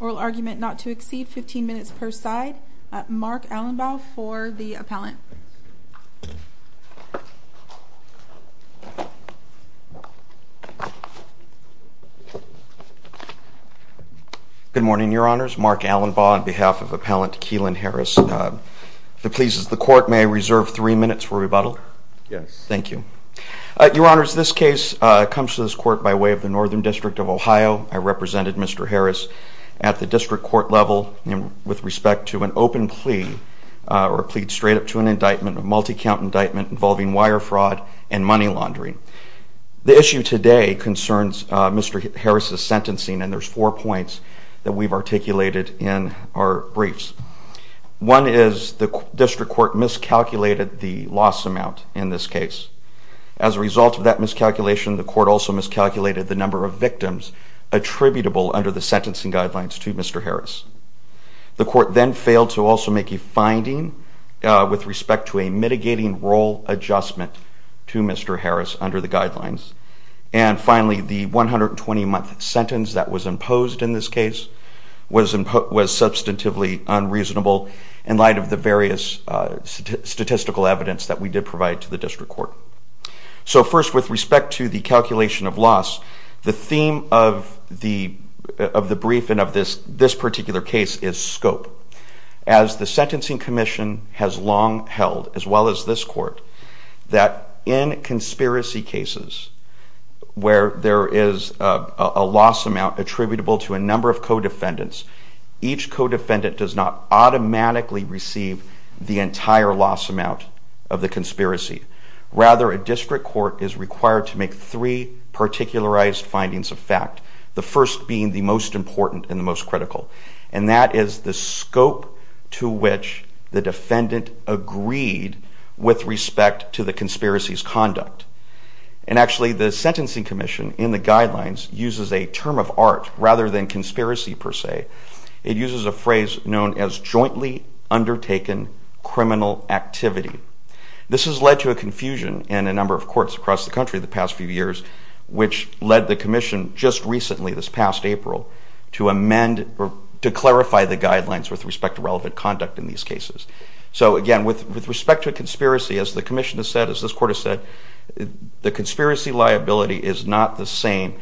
Oral argument not to exceed 15 minutes per side. Mark Allenbaugh for the appellant. Good morning, Your Honors. Mark Allenbaugh on behalf of Appellant Keelan Harris. If it pleases the Court, may I reserve three minutes for rebuttal? Yes. Thank you. Your Honors, this case comes to this Court by way of the Northern District of Ohio. I represented Mr. Harris at the district court level with respect to an open plea or plead straight up to an indictment, a multi-count indictment involving wire fraud and money laundering. The issue today concerns Mr. Harris's sentencing and there's four points that we've articulated in our briefs. One is the district court miscalculated the loss amount in this case. As a result of that miscalculation, the court also miscalculated the number of victims attributable under the sentencing guidelines to Mr. Harris. The court then failed to also make a finding with respect to a mitigating role adjustment to Mr. Harris under the guidelines. And finally, the 120-month sentence that was imposed in this case was substantively unreasonable in light of the various statistical evidence that we did provide to the district court. So first, with respect to the calculation of loss, the theme of the brief and of this particular case is scope. As the sentencing commission has long held, as well as this court, that in conspiracy cases where there is a loss amount attributable to a number of co-defendants, each co-defendant does not automatically receive the entire loss amount of the conspiracy. Rather, a district court is required to make three particularized findings of fact, the first being the most important and the most critical. And that is the scope to which the defendant agreed with respect to the conspiracy's conduct. And actually, the sentencing commission in the guidelines uses a term of art rather than conspiracy per se. It uses a phrase known as jointly undertaken criminal activity. This has led to a confusion in a number of courts across the country the past few years, which led the commission just recently, this past April, to amend or to clarify the guidelines with respect to relevant conduct in these cases. So again, with respect to a conspiracy, as the commission has said, as this court has said, the conspiracy liability is not the same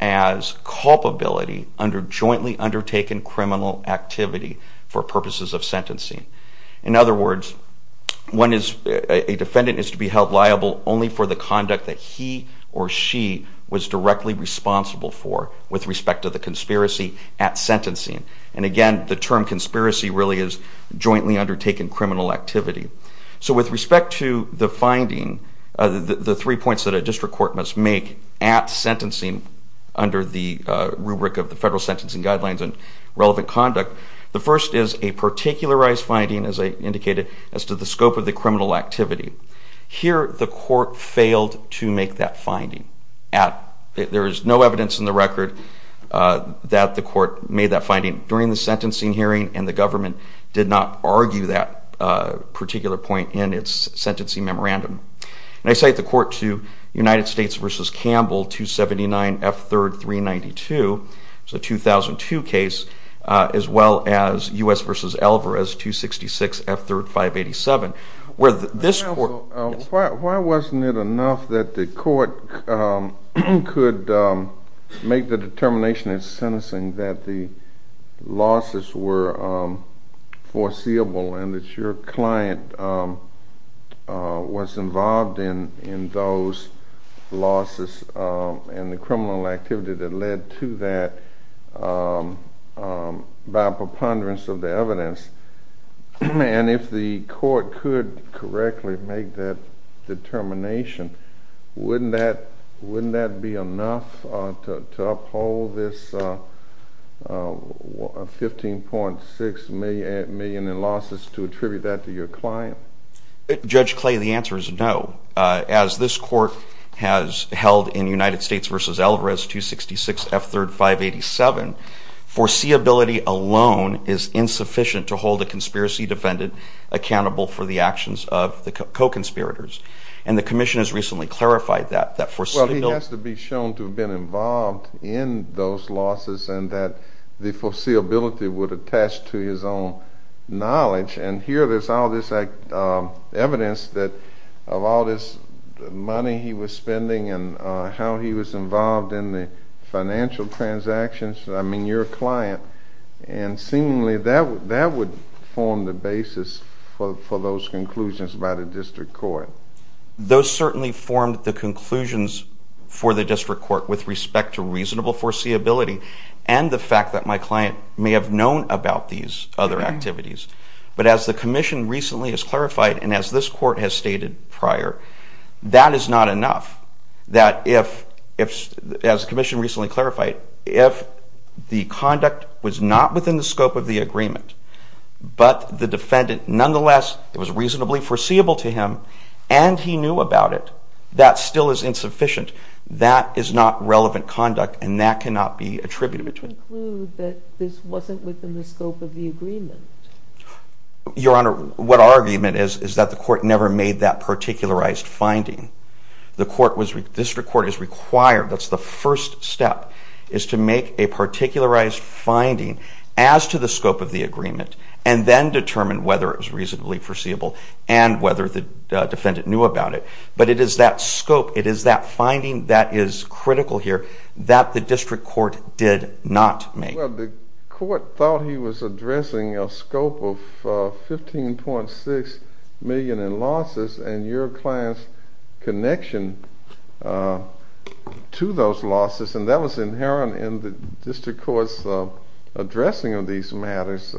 as culpability under jointly undertaken criminal activity for purposes of sentencing. In other words, a defendant is to be held liable only for the conduct that he or she was directly responsible for with respect to the conspiracy at sentencing. And again, the term conspiracy really is jointly undertaken criminal activity. So with respect to the finding, the three points that a district court must make at sentencing under the rubric of the federal sentencing guidelines and relevant conduct, the first is a particularized finding, as I indicated, as to the scope of the criminal activity. Here, the court failed to make that finding. There is no evidence in the record that the court made that finding during the sentencing hearing, and the government did not argue that particular point in its sentencing memorandum. And I cite the court to United States v. Campbell, 279 F. 3rd, 392. It's a 2002 case, as well as U.S. v. Alvarez, 266 F. 3rd, 587. Why wasn't it enough that the court could make the determination at sentencing that the losses were foreseeable and that your client was involved in those losses and the criminal activity that led to that by preponderance of the evidence? And if the court could correctly make that determination, wouldn't that be enough to uphold this 15.6 million in losses to attribute that to your client? Judge Clay, the answer is no. As this court has held in United States v. Alvarez, 266 F. 3rd, 587, foreseeability alone is insufficient to hold a conspiracy defendant accountable for the actions of the co-conspirators. And the commission has recently clarified that. Well, he has to be shown to have been involved in those losses and that the foreseeability would attach to his own knowledge. And here there's all this evidence of all this money he was spending and how he was involved in the financial transactions. I mean, you're a client, and seemingly that would form the basis for those conclusions by the district court. Those certainly formed the conclusions for the district court with respect to reasonable foreseeability and the fact that my client may have known about these other activities. But as the commission recently has clarified, and as this court has stated prior, that is not enough. That if, as the commission recently clarified, if the conduct was not within the scope of the agreement, but the defendant nonetheless, it was reasonably foreseeable to him, and he knew about it, that still is insufficient. That is not relevant conduct, and that cannot be attributed. So you conclude that this wasn't within the scope of the agreement? Your Honor, what our argument is, is that the court never made that particularized finding. The court was, the district court is required, that's the first step, is to make a particularized finding as to the scope of the agreement and then determine whether it was reasonably foreseeable and whether the defendant knew about it. But it is that scope, it is that finding that is critical here, that the district court did not make. Well, the court thought he was addressing a scope of 15.6 million in losses and your client's connection to those losses, and that was inherent in the district court's addressing of these matters.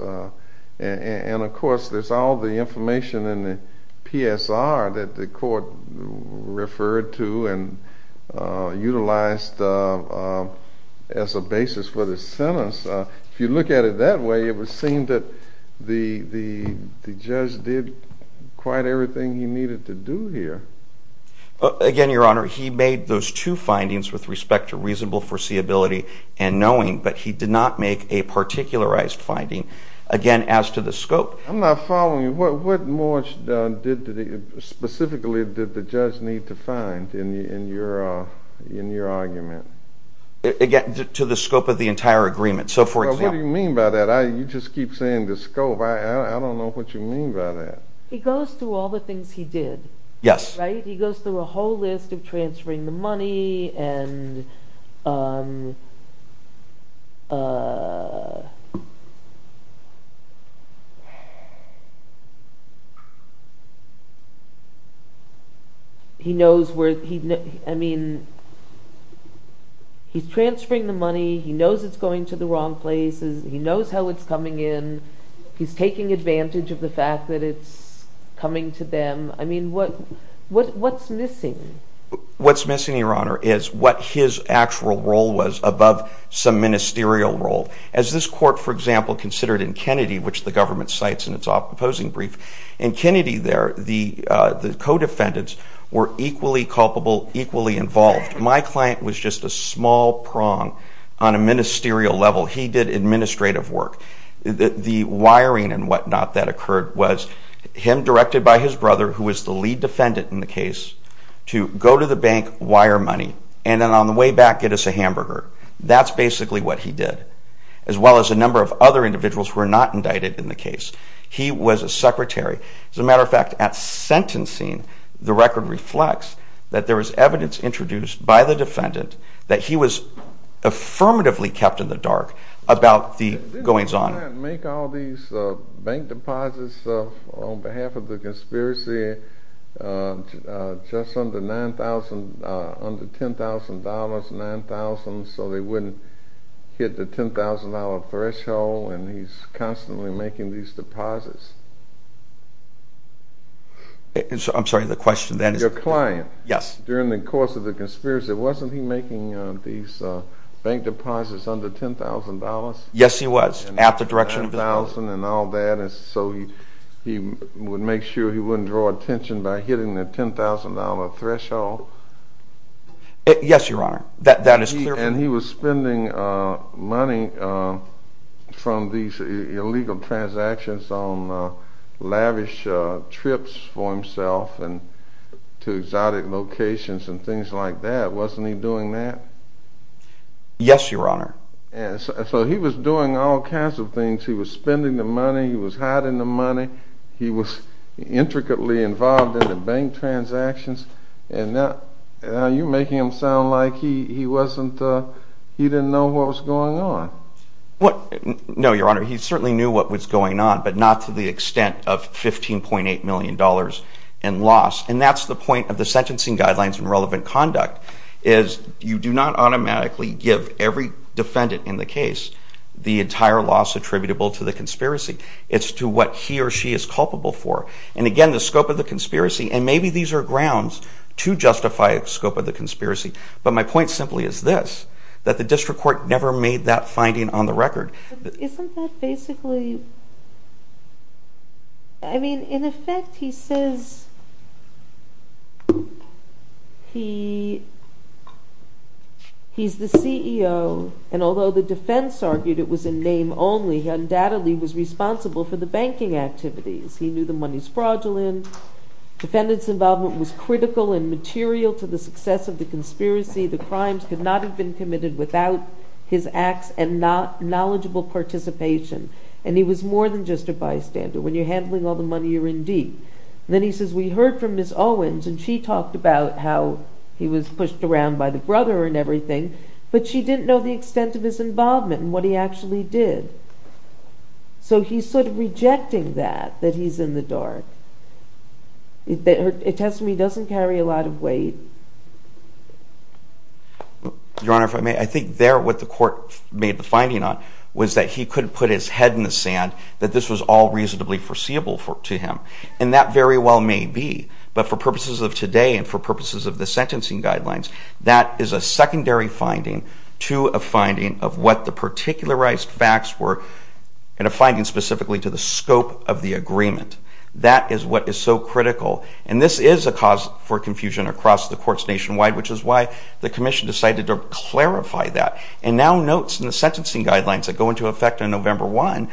And of course, there's all the information in the PSR that the court referred to and utilized as a basis for the sentence. If you look at it that way, it would seem that the judge did quite everything he needed to do here. Again, Your Honor, he made those two findings with respect to reasonable foreseeability and knowing, but he did not make a particularized finding, again, as to the scope. I'm not following you. What more specifically did the judge need to find in your argument? Again, to the scope of the entire agreement, so for example. What do you mean by that? You just keep saying the scope. I don't know what you mean by that. He goes through all the things he did. Yes. He goes through a whole list of transferring the money. He's transferring the money. He knows it's going to the wrong places. He knows how it's coming in. He's taking advantage of the fact that it's coming to them. What's missing? What's missing, Your Honor, is what his actual role was above some ministerial role. As this court, for example, considered in Kennedy, which the government cites in its opposing brief, in Kennedy there, the co-defendants were equally culpable, equally involved. My client was just a small prong on a ministerial level. He did administrative work. The wiring and whatnot that occurred was him directed by his brother, who was the lead defendant in the case, to go to the bank, wire money, and then on the way back get us a hamburger. That's basically what he did, as well as a number of other individuals who were not indicted in the case. He was a secretary. As a matter of fact, at sentencing, the record reflects that there was evidence introduced by the defendant that he was affirmatively kept in the dark about the goings-on. Didn't your client make all these bank deposits on behalf of the conspiracy just under $10,000, $9,000, so they wouldn't hit the $10,000 threshold, and he's constantly making these deposits? I'm sorry, the question then is... Your client, during the course of the conspiracy, wasn't he making these bank deposits under $10,000? Yes, he was, at the direction of his brother. $10,000 and all that, so he would make sure he wouldn't draw attention by hitting the $10,000 threshold? Yes, Your Honor, that is clear. And he was spending money from these illegal transactions on lavish trips for himself to exotic locations and things like that. Wasn't he doing that? Yes, Your Honor. So he was doing all kinds of things. He was spending the money. He was hiding the money. He was intricately involved in the bank transactions. Now you're making him sound like he didn't know what was going on. No, Your Honor, he certainly knew what was going on, but not to the extent of $15.8 million in loss. And that's the point of the sentencing guidelines and relevant conduct, is you do not automatically give every defendant in the case the entire loss attributable to the conspiracy. It's to what he or she is culpable for. And again, the scope of the conspiracy, and maybe these are grounds to justify the scope of the conspiracy, but my point simply is this, that the district court never made that finding on the record. Isn't that basically, I mean, in effect he says he's the CEO, and although the defense argued it was a name only, he undoubtedly was responsible for the banking activities. He knew the money's fraudulent. Defendant's involvement was critical and material to the success of the conspiracy. The crimes could not have been committed without his acts and knowledgeable participation. And he was more than just a bystander. When you're handling all the money, you're in deep. Then he says, we heard from Ms. Owens, and she talked about how he was pushed around by the brother and everything, but she didn't know the extent of his involvement and what he actually did. So he's sort of rejecting that, that he's in the dark. It tends to me he doesn't carry a lot of weight. Your Honor, if I may, I think there what the court made the finding on was that he couldn't put his head in the sand, that this was all reasonably foreseeable to him. And that very well may be, but for purposes of today and for purposes of the sentencing guidelines, that is a secondary finding to a finding of what the particularized facts were, and a finding specifically to the scope of the agreement. That is what is so critical. And this is a cause for confusion across the courts nationwide, which is why the commission decided to clarify that. And now notes in the sentencing guidelines that go into effect on November 1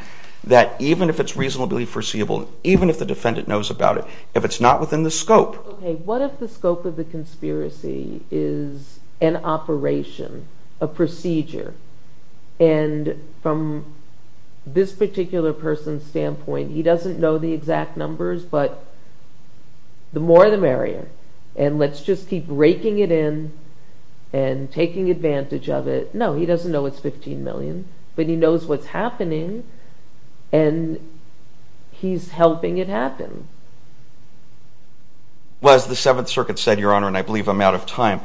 that even if it's reasonably foreseeable, even if the defendant knows about it, if it's not within the scope. Okay, what if the scope of the conspiracy is an operation, a procedure, and from this particular person's standpoint, he doesn't know the exact numbers, but the more the merrier, and let's just keep raking it in and taking advantage of it. No, he doesn't know it's 15 million, but he knows what's happening, and he's helping it happen. Well, as the Seventh Circuit said, Your Honor, and I believe I'm out of time,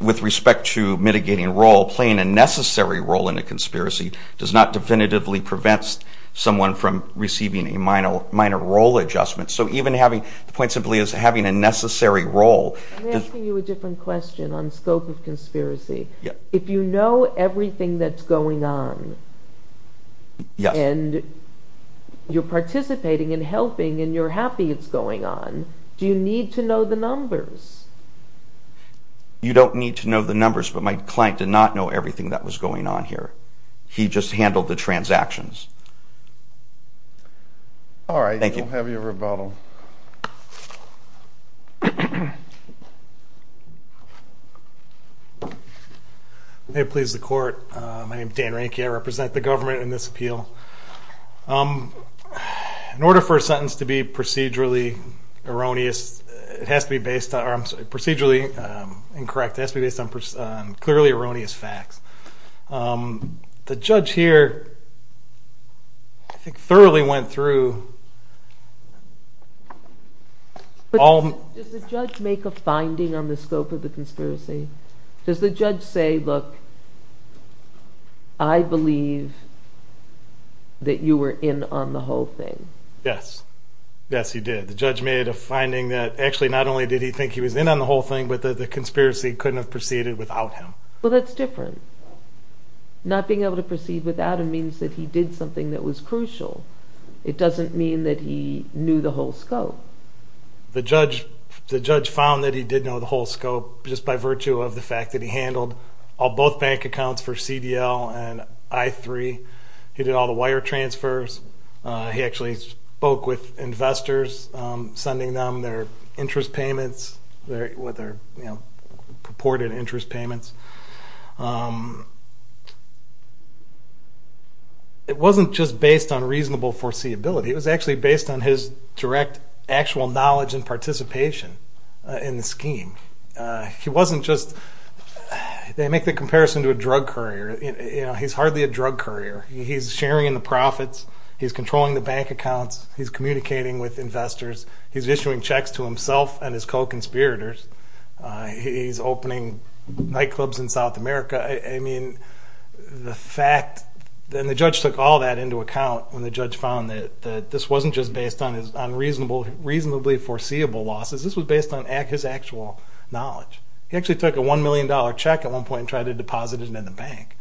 with respect to mitigating role, playing a necessary role in a conspiracy does not definitively prevent someone from receiving a minor role adjustment. So even having, the point simply is having a necessary role. I'm asking you a different question on scope of conspiracy. If you know everything that's going on, and you're participating and helping and you're happy it's going on, do you need to know the numbers? You don't need to know the numbers, but my client did not know everything that was going on here. He just handled the transactions. All right, we'll have you rebuttal. May it please the Court. My name is Dan Ranke. I represent the government in this appeal. In order for a sentence to be procedurally incorrect, it has to be based on clearly erroneous facts. The judge here thoroughly went through all... Does the judge make a finding on the scope of the conspiracy? Does the judge say, look, I believe that you were in on the whole thing? Yes. Yes, he did. The judge made a finding that actually not only did he think he was in on the whole thing, but that the conspiracy couldn't have proceeded without him. Well, that's different. Not being able to proceed without him means that he did something that was crucial. It doesn't mean that he knew the whole scope. The judge found that he did know the whole scope just by virtue of the fact that he handled both bank accounts for CDL and I3. He did all the wire transfers. He actually spoke with investors, sending them their interest payments, their purported interest payments. It wasn't just based on reasonable foreseeability. It was actually based on his direct actual knowledge and participation in the scheme. He wasn't just... They make the comparison to a drug courier. He's hardly a drug courier. He's sharing in the profits. He's controlling the bank accounts. He's communicating with investors. He's issuing checks to himself and his co-conspirators. He's opening nightclubs in South America. I mean, the fact... And the judge took all that into account when the judge found that this wasn't just based on his reasonably foreseeable losses. This was based on his actual knowledge. He actually took a $1 million check at one point and tried to deposit it in the bank.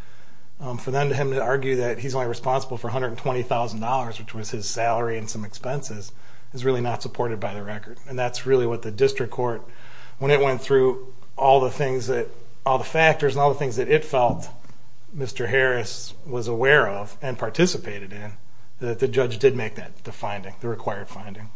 For him to argue that he's only responsible for $120,000, which was his salary and some expenses, is really not supported by the record. And that's really what the district court, when it went through all the factors and all the things that it felt Mr. Harris was aware of and participated in, that the judge did make the finding, the required finding.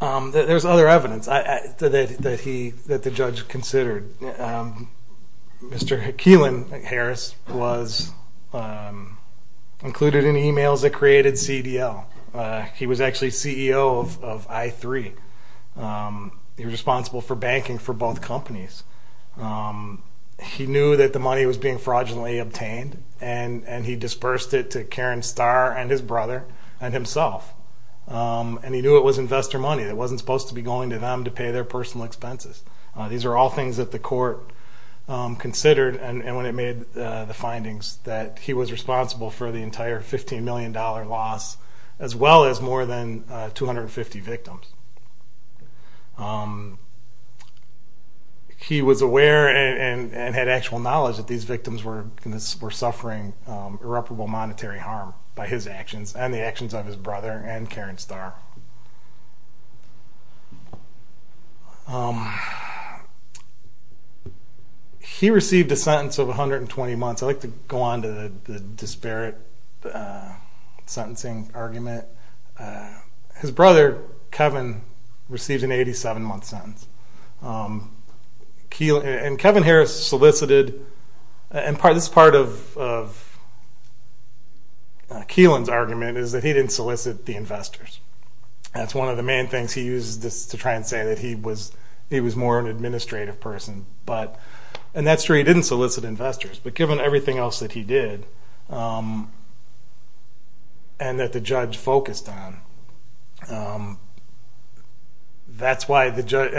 There's other evidence that the judge considered. Mr. Keelan Harris was included in emails that created CDL. He was actually CEO of i3. He was responsible for banking for both companies. He knew that the money was being fraudulently obtained and he dispersed it to Karen Starr and his brother and himself. And he knew it was investor money. It wasn't supposed to be going to them to pay their personal expenses. These are all things that the court considered. And when it made the findings that he was responsible for the entire $15 million loss, as well as more than 250 victims. He was aware and had actual knowledge that these victims were suffering irreparable monetary harm by his actions and the actions of his brother and Karen Starr. He received a sentence of 120 months. I like to go on to the disparate sentencing argument. His brother, Kevin, received an 87-month sentence. And Kevin Harris solicited, and this is part of Keelan's argument, is that he didn't solicit the investors. That's one of the main things he uses to try and say that he was more of an administrative person. And that's true, he didn't solicit investors. But given everything else that he did and that the judge focused on, that's why the judge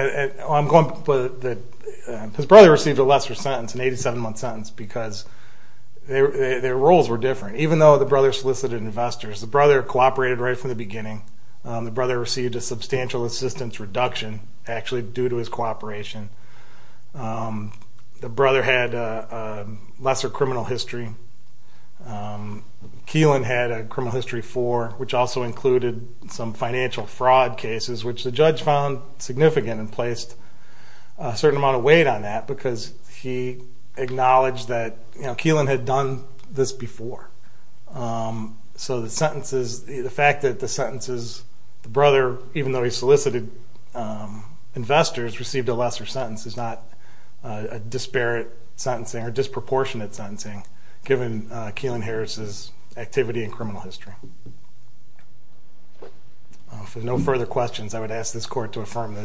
– his brother received a lesser sentence, an 87-month sentence, because their roles were different. Even though the brother solicited investors, the brother cooperated right from the beginning. The brother received a substantial assistance reduction actually due to his cooperation. The brother had a lesser criminal history. Keelan had a criminal history four, which also included some financial fraud cases, which the judge found significant and placed a certain amount of weight on that because he acknowledged that Keelan had done this before. So the sentences – the fact that the sentences – the brother, even though he solicited investors, received a lesser sentence is not a disparate sentencing or disproportionate sentencing, given Keelan Harris's activity and criminal history. If there are no further questions, I would ask this court to affirm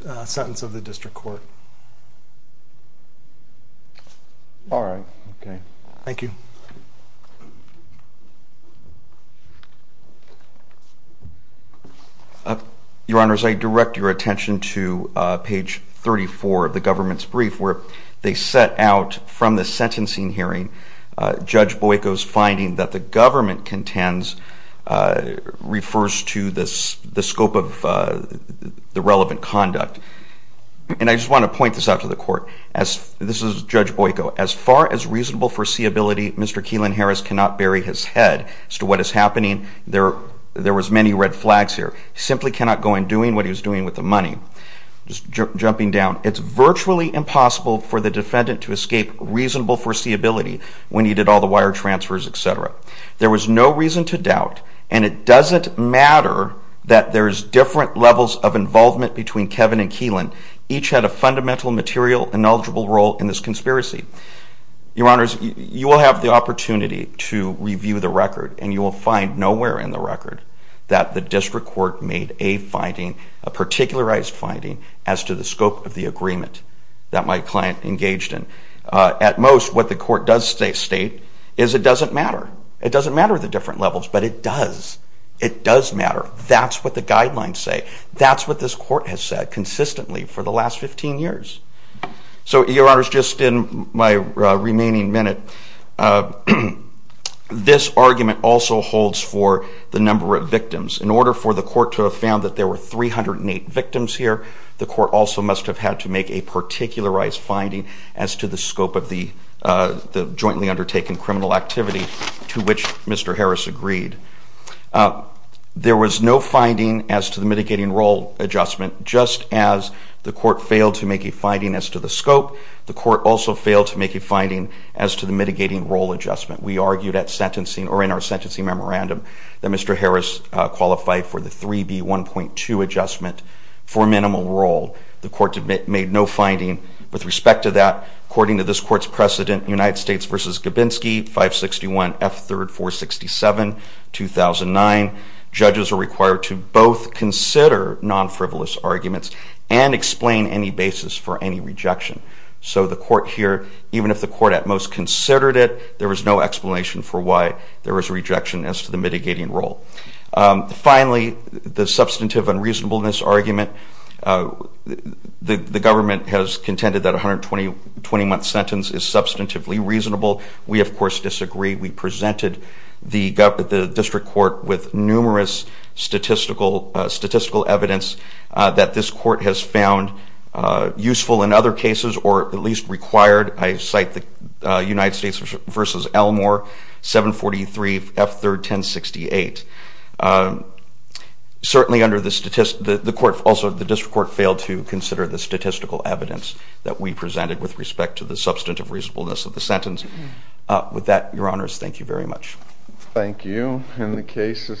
the sentence of the district court. All right. Okay. Thank you. Your Honors, I direct your attention to page 34 of the government's brief, where they set out from the sentencing hearing Judge Boyko's finding that the government contends – refers to the scope of the relevant conduct. And I just want to point this out to the court. This is Judge Boyko. As far as reasonable foreseeability, Mr. Keelan Harris cannot bury his head as to what is happening. There was many red flags here. He simply cannot go in doing what he was doing with the money. Just jumping down, it's virtually impossible for the defendant to escape reasonable foreseeability when he did all the wire transfers, et cetera. There was no reason to doubt, and it doesn't matter that there's different levels of involvement between Kevin and Keelan. Each had a fundamental, material, and knowledgeable role in this conspiracy. Your Honors, you will have the opportunity to review the record, and you will find nowhere in the record that the district court made a finding, a particularized finding, as to the scope of the agreement that my client engaged in. At most, what the court does state is it doesn't matter. It doesn't matter the different levels, but it does. It does matter. That's what the guidelines say. That's what this court has said consistently for the last 15 years. Your Honors, just in my remaining minute, this argument also holds for the number of victims. In order for the court to have found that there were 308 victims here, the court also must have had to make a particularized finding as to the scope of the jointly undertaken criminal activity to which Mr. Harris agreed. There was no finding as to the mitigating role adjustment. Just as the court failed to make a finding as to the scope, the court also failed to make a finding as to the mitigating role adjustment. We argued at sentencing, or in our sentencing memorandum, that Mr. Harris qualified for the 3B1.2 adjustment for minimal role. The court made no finding with respect to that. According to this court's precedent, United States v. Gabinsky, 561 F. 3rd 467, 2009, judges are required to both consider non-frivolous arguments and explain any basis for any rejection. So the court here, even if the court at most considered it, there was no explanation for why there was a rejection as to the mitigating role. Finally, the substantive unreasonableness argument. The government has contended that a 120-month sentence is substantively reasonable. We, of course, disagree. We presented the district court with numerous statistical evidence that this court has found useful in other cases, or at least required. I cite the United States v. Elmore, 743 F. 3rd 1068. Also, the district court failed to consider the statistical evidence that we presented with respect to the substantive reasonableness of the sentence. With that, Your Honors, thank you very much. Thank you, and the case is submitted.